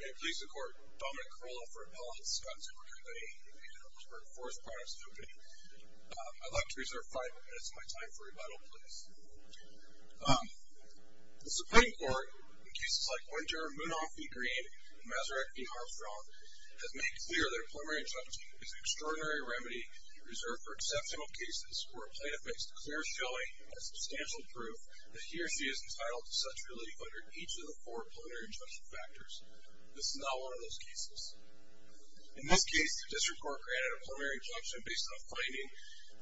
May it please the Court, Dominic Carolla for Appellant, Scott Timber Co. and the Pittsburgh Forest Products Company. I'd like to reserve five minutes of my time for rebuttal, please. The Supreme Court, in cases like Winter, Munafi Green, and Masaryk v. Armstrong, has made clear that a preliminary judge is an extraordinary remedy reserved for exceptional cases where a plaintiff makes a clear showing and substantial proof that he or she is entitled to such relief under each of the four plenary injunction factors. This is not one of those cases. In this case, the District Court granted a plenary injunction based on a finding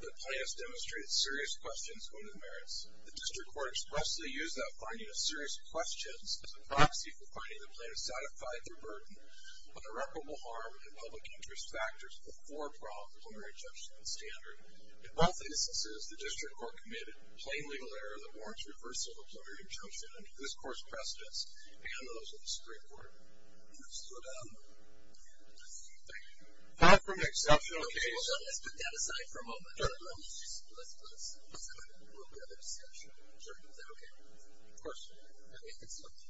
that the plaintiff demonstrated serious questions on his merits. The District Court expressly used that finding of serious questions as a proxy for finding the plaintiff satisfied their burden on irreparable harm and public interest factors at the forefront of the plenary injunction and standard. In both instances, the District Court committed plain legal error that warrants reversal of the plenary injunction under this court's precedence, and those of the Supreme Court. Thank you. Not from an exceptional case. Let's put that aside for a moment. Let's have a little bit of a discussion. Is that okay? Of course. I think it's fine.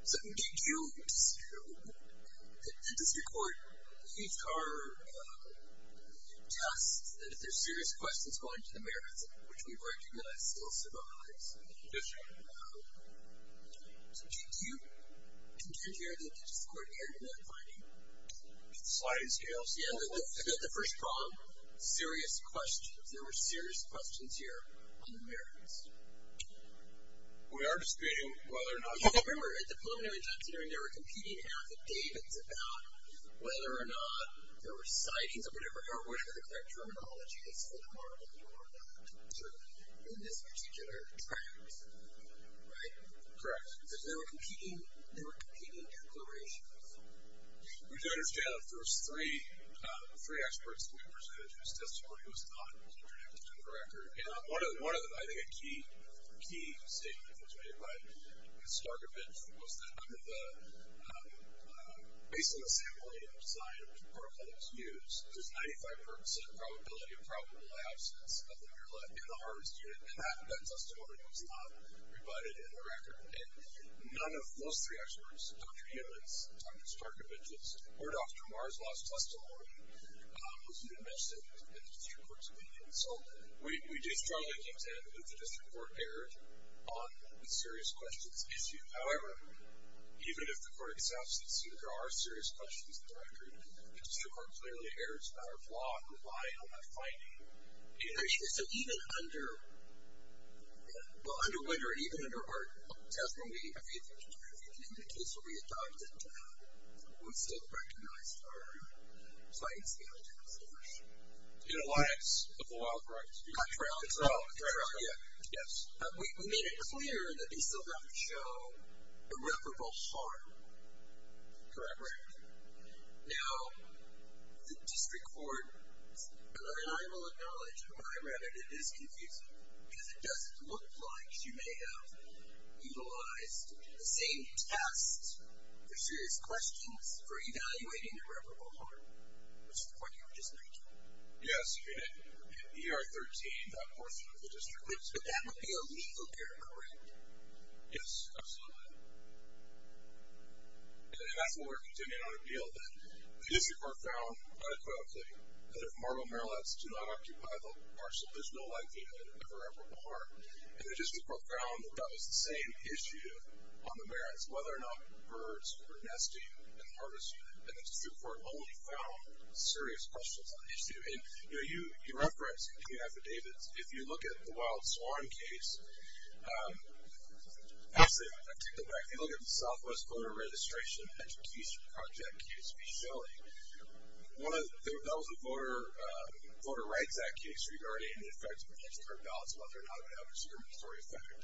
So the District Court used our test that if there's serious questions going to the merits, which we recognize still survives. Yes, sir. So do you contend here that the District Court erred in that finding? The slide is here. Yeah, the first problem, serious questions. There were serious questions here on the merits. We are disputing whether or not. Remember, at the plenary injunction, there were competing affidavits about whether or not there were sightings or whatever the correct terminology is for the marble or not, certainly, in this particular trial. Right? Correct. There were competing declarations. We do understand the first three experts that we presented whose testimony was not interdicted on the record, and one of the, I think, a key statement that was made by Starkovich was that, based on the sampling and the design of the protocol that was used, there's 95% probability of probable absence in the harvest unit, and none of those three experts, Dr. Himmels, Dr. Starkovich's, or Dr. Marr's last testimony, was interdicted in the District Court's opinion. So we do strongly contend that the District Court erred on the serious questions issue. However, even if the court accepts that there are serious questions in the record, the District Court clearly erred out of law and rely on that finding. So even under, well, under Winter, even under our testimony, the case will be adopted. We still recognize our sightings. In alliance with the wild rice. That's right. Yes. We made it clear that we still have to show irreparable harm. Correct. Now, the District Court, and I will acknowledge where I'm at, it is confusing because it doesn't look like she may have utilized the same tests for serious questions for evaluating irreparable harm, which is the point you were just making. Yes. In ER 13, that portion of the district. But that would be a legal error, correct? Yes, absolutely. And that's where we're continuing on a deal. The District Court found, unequivocally, that if Marlowe Marillettes do not occupy the parcel, there's no likelihood of irreparable harm. And the District Court found that that was the same issue on the merits, whether or not birds were nesting in the harvest unit. And the District Court only found serious questions on the issue. And, you know, you referenced in your affidavits, if you look at the Wild Swan case. Actually, I take that back. If you look at the Southwest Voter Registration Education Project case, v. Shelley, that was a Voter Rights Act case regarding the effects of postcard ballots, whether or not they have a discriminatory effect.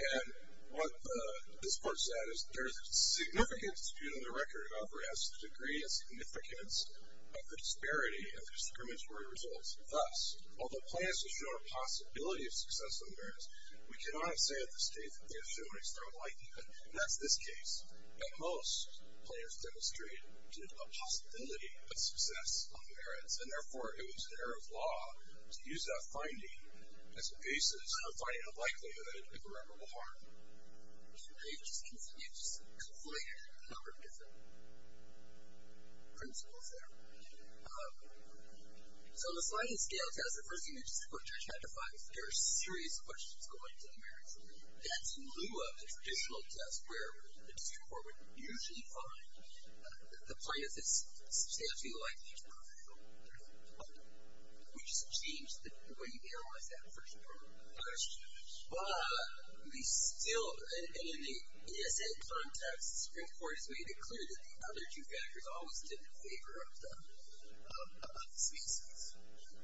And what the District Court said is, there is a significant dispute on the record about whether it has to the degree of significance of the disparity of the discriminatory results. Thus, although plans to show a possibility of success on merits, we cannot say at this stage that they have shown external likelihood. And that's this case. At most, plans demonstrated a possibility of success on merits. And, therefore, it was an error of law to use that finding as a basis for finding a likelihood of irreparable harm. You've just conflated a number of different principles there. So, on the sliding scale test, the first thing that the District Court judge had to find was there are serious questions going to the merits. And that's in lieu of the traditional test, where the District Court would usually find that the plan is substantially likely to prevail. We just changed the way you analyze that first part of the question. But we still, and in the ESN context, the District Court has made it clear that the other two factors always stand in favor of the species.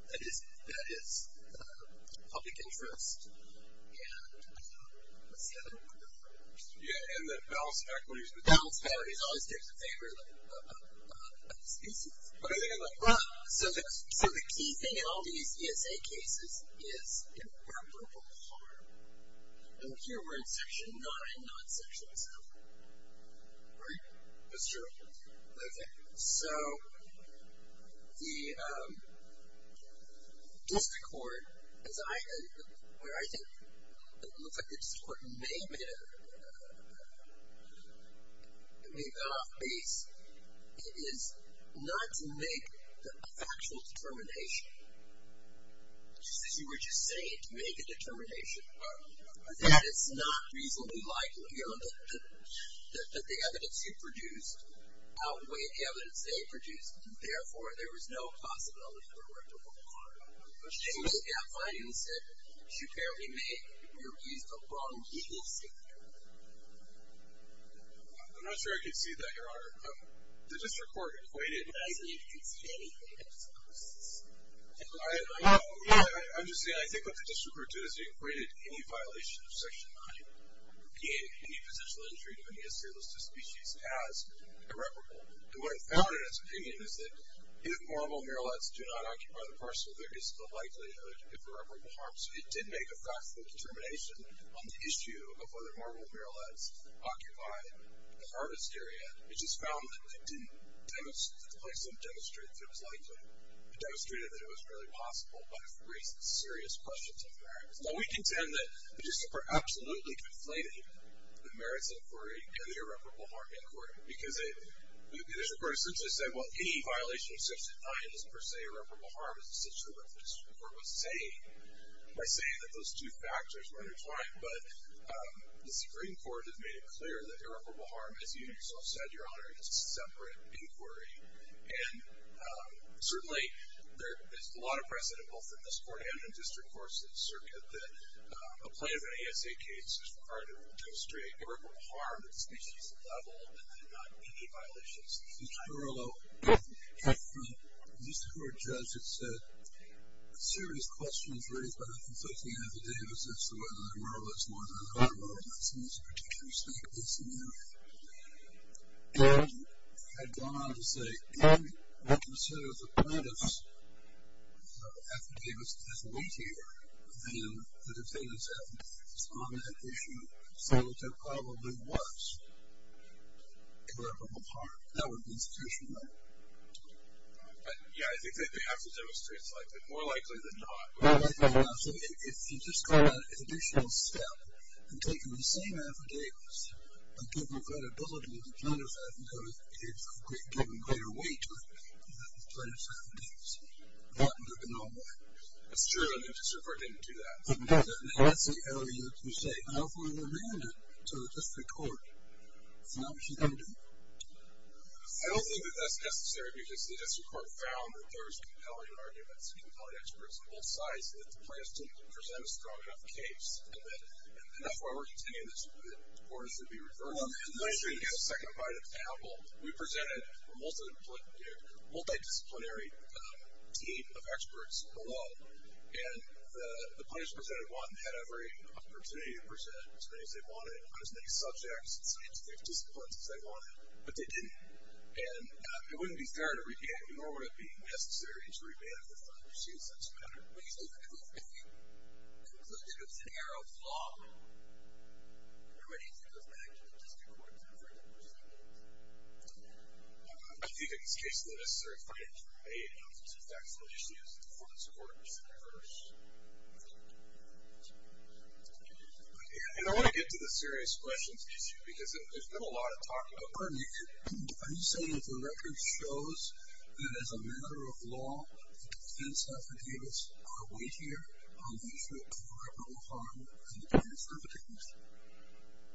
That is, public interest and the set of other factors. Yeah, and the balance of equities. The balance of equities always stands in favor of the species. So, the key thing in all these ESA cases is irreparable harm. And here we're in Section 9, not Section 7. Great. So, the District Court, where I think it looks like the District Court may have been off base, is not to make a factual determination. As you were just saying, to make a determination. That it's not reasonably likely that the evidence you produced outweighed the evidence they produced. Therefore, there was no possibility for irreparable harm. And you just kept finding that you apparently made, you used the wrong legal statement. I'm not sure I could see that, Your Honor. The District Court acquitted. I didn't see anything that was opposed. I know. I'm just saying, I think what the District Court did is it acquitted any violation of Section 9, being any potential injury to any assailant or species as irreparable. And what it found in its opinion is that, if marble marolettes do not occupy the parcel, there is a likelihood of irreparable harm. So, it did make a factual determination on the issue of whether marble marolettes occupy the harvest area. It just found that it didn't, like some demonstrated that it was likely. It demonstrated that it was really possible, but it raised serious questions of merits. Now, we contend that the District Court absolutely conflated the merits inquiry and the irreparable harm inquiry. Because the District Court essentially said, well, any violation of Section 9 is per se irreparable harm, as the District Court was saying, by saying that those two factors were intertwined. But the Supreme Court has made it clear that irreparable harm, as you yourself said, Your Honor, is a separate inquiry. And certainly, there is a lot of precedent, both in this Court and in the District Court's circuit, that a plaintiff in an ASA case is required to demonstrate irreparable harm at the species level, and then not any violations of Section 9. Mr. Carrillo. Yes, Your Honor. The District Court judge had said, serious questions raised by the conflicting affidavits as to whether the marolettes more than occupied the harvest in this particular species. And had gone on to say, if the plaintiff's affidavit is weightier than the defendant's affidavit on that issue, so it probably was irreparable harm. That would be institutionally. Yeah, I think they have to demonstrate it's likely. More likely than not. More likely than not. So if you just go down an additional step and take the same affidavits and give them credibility to the plaintiff's affidavit, it's given greater weight to the plaintiff's affidavits. That would be normal. That's true. And the District Court didn't do that. And that's the area that you say, I don't want to go around it. So the District Court found what you're going to do. I don't think that that's necessary, because the District Court found that there was compelling arguments, compelling experts on both sides, that the plaintiffs didn't present a strong enough case. And that's why we're continuing this. The court is to be reversed. Well, I'm not sure you get a second bite of the apple. We presented a multidisciplinary team of experts alone. And the plaintiffs presented one. They had every opportunity to present as many as they wanted, on as many subjects and scientific disciplines as they wanted. But they didn't. And it wouldn't be fair to re-enact the normative being necessary to remand if the plaintiff sees this matter. What do you think of it being concluded as an error of law? Or what do you think of the fact that the District Court is never going to present it? I think, in this case, it's not necessary for it to remand if the plaintiff sees the facts. And the District Court is to be reversed. And I want to get to the serious questions, because there's been a lot of talk about this. Are you saying that the record shows that, as a matter of law, defense affidavits are weightier on the issue of irreparable harm than the plaintiff's affidavits?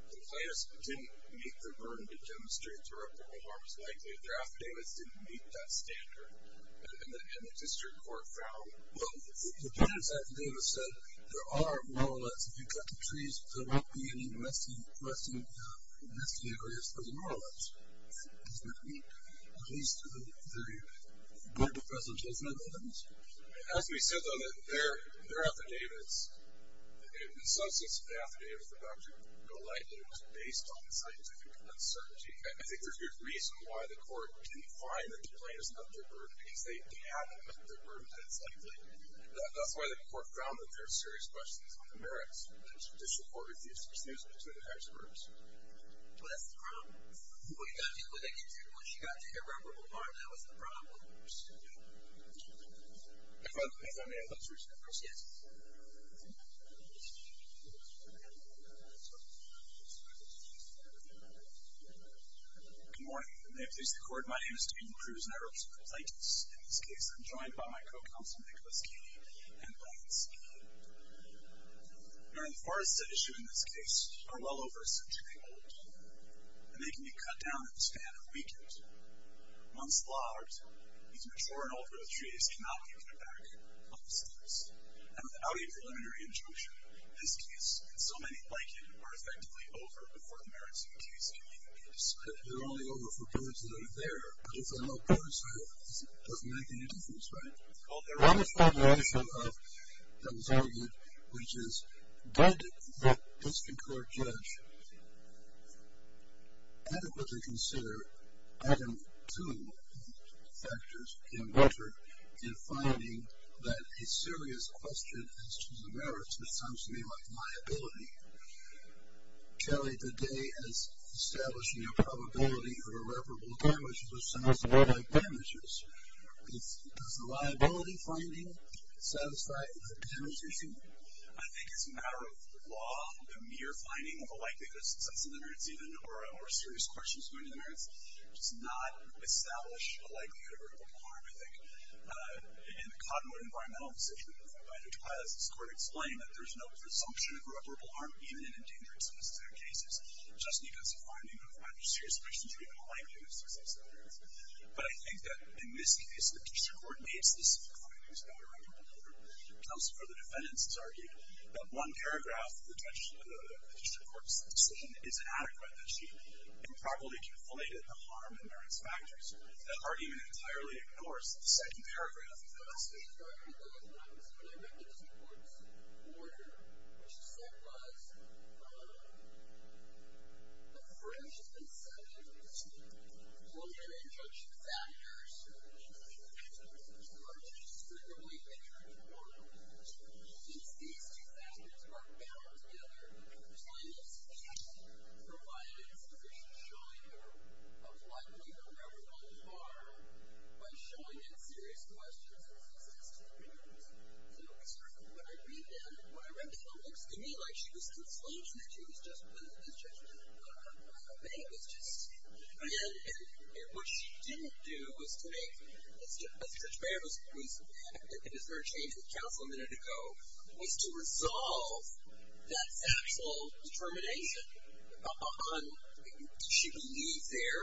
The plaintiffs didn't make the burden to demonstrate that irreparable harm is likely. Their affidavits didn't meet that standard. And the District Court found both. The plaintiff's affidavits said, there are more or less, if you cut the trees, there won't be any rusty areas. There's more or less. Isn't that weak? At least to the point of presentation of evidence? It has to be said, though, that their affidavits, in some sense of the affidavits, are about to go lightly. It was based on scientific uncertainty. And I think there's good reason why the Court didn't find that the plaintiff's affidavits met their burden, because they haven't met the burden that it's likely. That's why the Court found that there are serious questions on the merits. The District Court refused to pursue them to the experts. Well, that's the problem. What you got to do with it, once you got to irreparable harm, that was the problem. If I may, I'd like to introduce my first witness. Good morning. May it please the Court, my name is David Cruz, and I represent the Plaintiffs. In this case, I'm joined by my co-counsel, Nicholas Keeley, and Lance Keeley. Now, the forests that issue in this case are well over a century old, and they can be cut down in the span of a weekend. Once logged, these mature and old-growth trees cannot be cut back on the steps. And without a preliminary injunction, this case, and so many like it, are effectively over before the merits of the case can even be discredited. They're only over for birds that are there, but if they're not birds, that doesn't make any difference, right? Well, there is a formulation that was argued, which is, did the District Court judge adequately consider item 2 factors in record in finding that a serious question as to the merits would sound to me like liability. Keeley, today, as establishing a probability of irreparable damage, which sounds to me like damages, does the liability finding satisfy the demonstration? I think, as a matter of law, the mere finding of a likelihood of success in the merits, even, or a serious question as to the merits, does not establish a likelihood of irreparable harm, I think. In the Cottonwood environmental decision, as this Court explained, there's no presumption of irreparable harm, even in endangered species in our cases, just because the finding of a serious question as to the likelihood of success in the merits. But I think that, in this case, the District Court made specific findings about a record order. Counsel for the defendants has argued that one paragraph of the District Court's decision is adequate, that she improperly conflated the harm and merits factors. That argument entirely ignores the second paragraph of the lawsuit. I agree with that. When I read the District Court's order, what she said was, the first and second, both are injunctive factors, and the third and fourth are indiscriminately injunctive. Since these two factors are bound together, plainly speaking, provides sufficient showing of likelihood of irreparable harm by showing that serious questions of success to the merits. So, it's true. When I read that, when I read that, it looks to me like she was consulting, and that she was just, as Judge Baird would make, was just, and what she didn't do was to make, as Judge Baird was, it was her change of counsel a minute ago, was to resolve that factual determination on, did she believe their,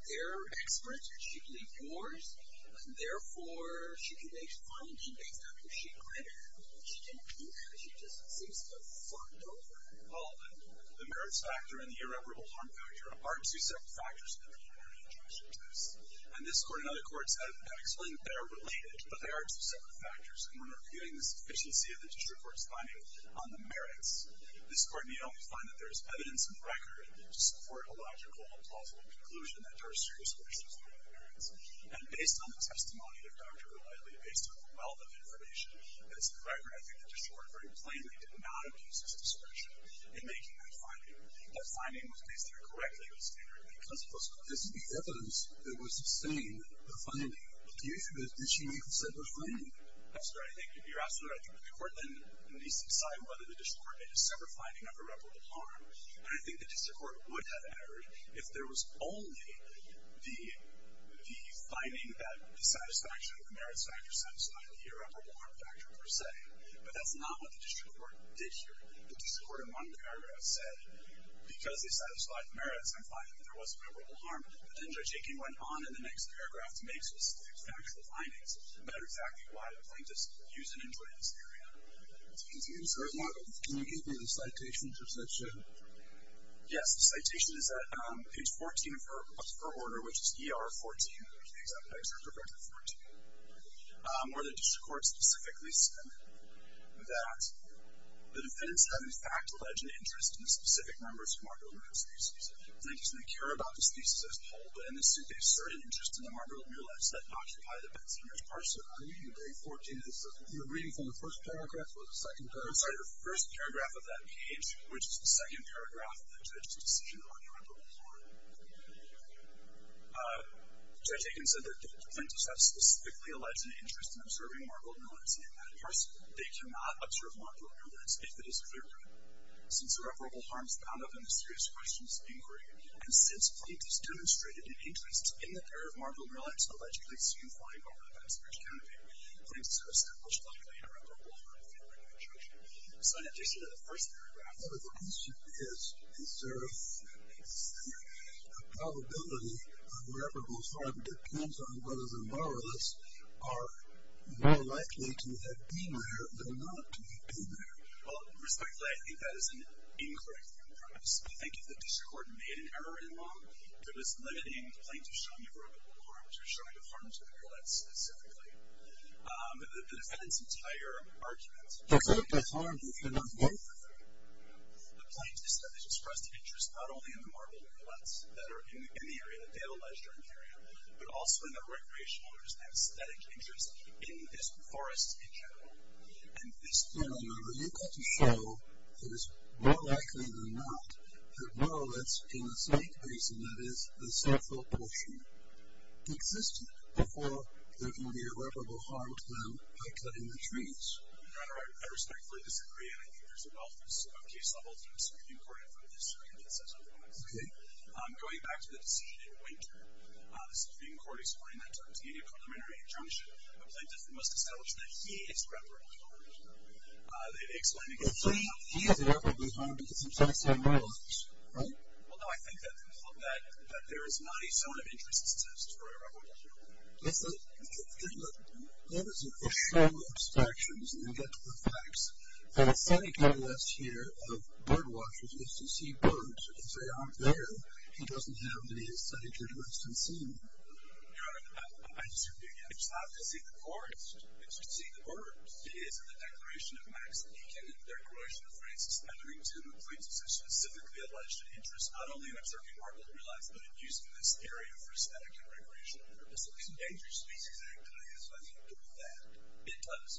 their experts, or did she believe yours, and therefore, she could make findings based on who she credited. She didn't do that. She just seems to have fucked over. Well, the merits factor and the irreparable harm factor are two separate factors that are inherently injunctive to this. And this Court and other courts have explained that they are related, but they are two separate factors. And when we're reviewing the sufficiency of the district court's finding on the merits, this Court may only find that there is evidence and record to support a logical and plausible conclusion that there are serious questions about the merits. And based on the testimony of Dr. O'Reilly, based on the wealth of information, as a matter of fact, I think the district court very plainly did not abuse its discretion in making that finding. That finding was based on a correct legal standard because of those questions. This is the evidence that would sustain the finding. The issue is, did she make a separate finding? Yes, sir. I think, if you're asking the record, then we need to decide whether the district court made a separate finding of irreparable harm. But I think the district court would have entered if there was only the, the finding that the satisfaction of the merits factor would have satisfied the irreparable harm factor per se. But that's not what the district court did here. The district court in one paragraph said because they satisfied the merits in finding that there was irreparable harm, the danger taking went on in the next paragraph to make specific factual findings. And that is exactly why plaintiffs use an influence area. Excuse me, sir. Can you give me the citation, just let's say? Yes. The citation is at page 14 for, for order, which is ER 14. There's the exact text for page 14. Um, where the district court specifically said that the defendants have in fact alleged an interest in the specific members of Margaret Willett's thesis. Plaintiffs may care about the thesis as a whole, but in this suit they assert an interest in the Margaret Willett's that occupy the Betsinger's parcel. Are you reading, are you reading 14? You're reading from the first paragraph or the second paragraph? I'm sorry, the first paragraph of that page, which is the second paragraph of the judge's decision on irreparable harm. Uh, Judge Aiken said that the plaintiffs have specifically alleged an interest in observing Margaret Willett's in that parcel. They cannot observe Margaret Willett's if it is clear to them. Since irreparable harm is bound up in the serious questions inquiry, and since plaintiffs demonstrated an interest in the pair of Margaret Willett's allegedly seen flying over the Betsinger's canopy, plaintiffs have established likely an irreparable harm theory in the judgment. So in addition to the first paragraph, what the question is is there is there a probability of irreparable harm that depends on whether the borrowers are more likely to have been there than not to have been there? Well, respectfully, I think that is an incorrect premise. I think if the district court made an error in law that was limiting the plaintiffs showing irreparable harm to showing the harm to the Willetts specifically, um, the defendant's entire argument is that if the harm is not there, the plaintiffs have expressed an interest not only in the Margaret Willetts that are in the area but also in the recreational or just the aesthetic interest in this forest in general. And this theorem are able to show that it is more likely than not that Willetts in the site basin that is the central portion existed before there can be irreparable harm to them by cutting the trees. Your Honor, I respectfully disagree and I think there's a wealth of case levels in the Supreme Court in front of this jury that says otherwise. Okay. I'm going back to the decision in Wynter. The Supreme Court explained that to us in a preliminary injunction. The plaintiff must establish that he is irreparable harm. Uh, they explain again... He is irreparable harm because of semi-standard water wash, right? Although I think that there is not a zone of interest that says it's irreparable harm. That is a a show of abstractions and we'll get to the facts. And the scientific interest here of birdwatchers is to see birds. If they aren't there, he doesn't have the aesthetic interest in seeing them. Your Honor, I disagree again. It's not to see the forest. It's to see the birds. It is in the declaration of Max Eakin and the declaration of Francis Etherington that the plaintiff has specifically alleged an interest not only in observing market realignment but in using this area for aesthetic and recreational purposes. The Endangered Species Act does that. It does.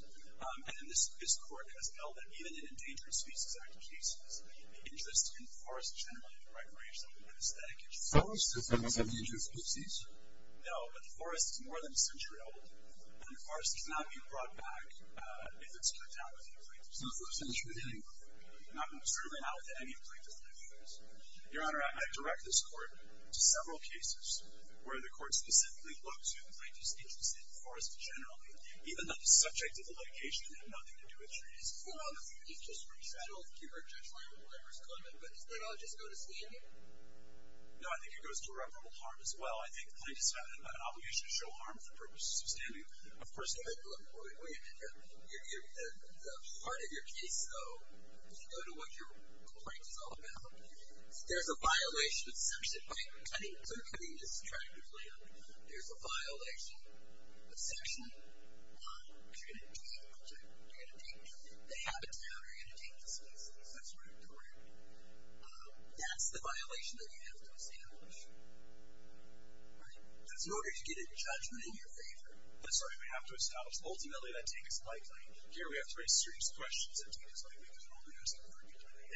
And this court has held that even in Endangered Species Act cases, the interest in forest generally for recreational and aesthetic interests... No, but Your Honor, I direct this court to several cases where the court specifically looks at the plaintiff's interest in forest generally even though the subject of the litigation had nothing to do with trees. Well, he's just resettled to her judgement whenever it's coming but does that not just go to standing? Well, there's a violation of section... Wait, I need to clarify this tragically. There's a violation of section 1. You're going to take the object, you're going to take the habitat, you're going to take the species. That's where it occurred. That's the violation that you have to establish. Right? In order to get a judgement in your favour, that's where you have to establish. Ultimately, that takes life. Here we have three serious questions that take life. Now, let me ask you this. Now, in getting that, if you were to do that, does that have anything to do with the merits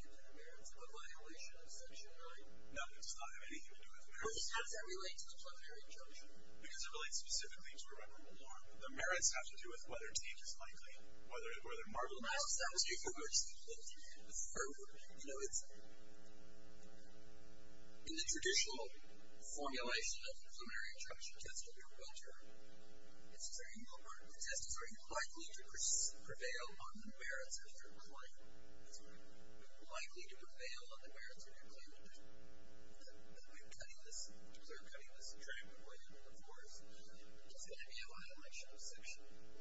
of a violation of section 9? No, it does not have anything to do with merits. How does that relate to the plumerian juncture? Because it relates specifically to a rebel war. The merits have to do with whether tape is likely, whether marble masks are likely. In the traditional formulation of the plumerian juncture test, the test is very likely to prevail on the merits of your claim. It's very likely to prevail on the merits of your claim and is going to be a violation of section 9.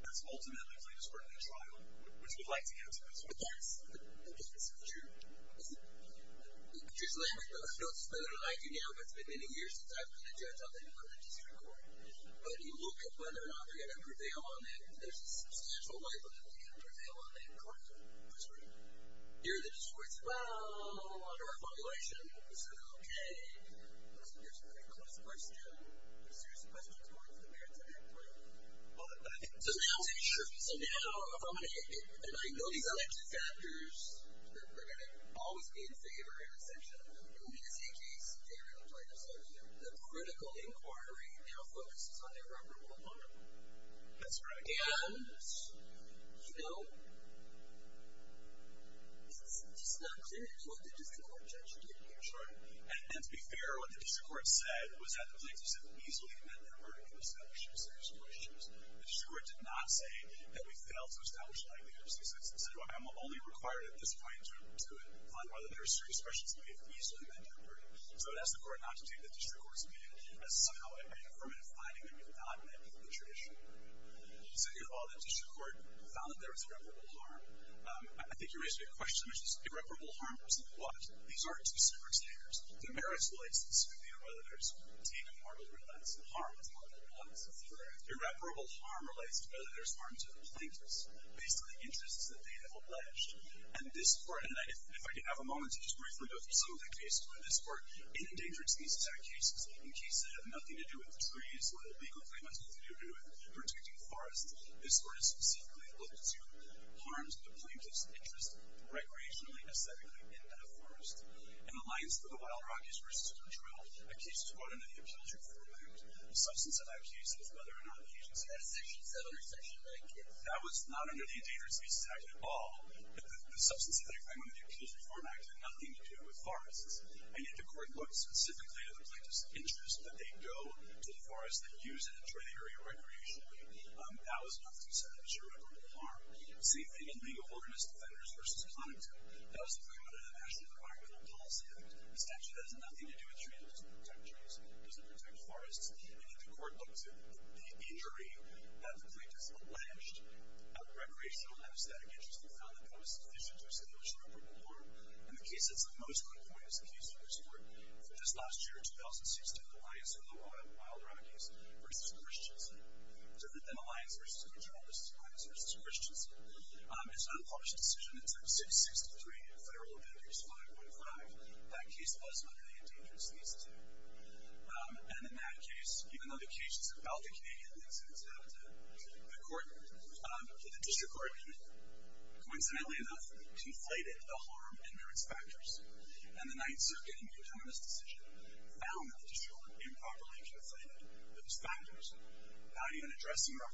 That's ultimately the discordant trial, which we'd like to get to. Yes, that's true. I don't know whether it's been many years since I've been a judge on the court. Here, the discord's well under our formulation. So, okay, there's a pretty close question. There's serious questions going to the merits of your claim. So, now, if I'm going to get, if I know these other two factors, then we're going to always be in favor of a section of the ruling, just in case. So, the critical inquiry now focuses on irreparable harm. And, you know, it's just not clear what the district court judge has to say about this. So, the merits relates to the scrutiny of whether there's harm to the plaintiffs based on the interests that they have alleged. And this court, if I can have a moment, I would like to say that in the case that was brought up, the case that was brought up, the case that was brought up, the case that was brought up, the case that was brought up we quickly recognized the issue of dis acording. Coincidentally though conflated the harm and merits factors and the decision found those factors without addressing the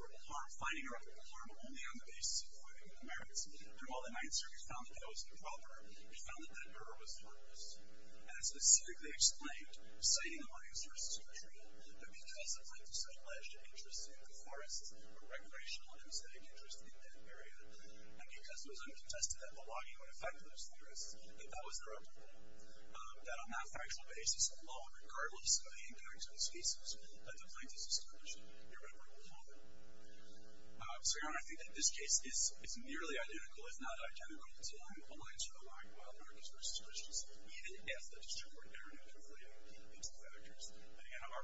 merits. We found that murder was harmless. Because of such interest in the forest and because it was uncontested that that was their own problem. On that basis the plaintiffs established irreparable harm. I think this case is nearly identical if not identical to the line of anarchists versus Christians. Our position is that it needs to be addressed separately. Even as it did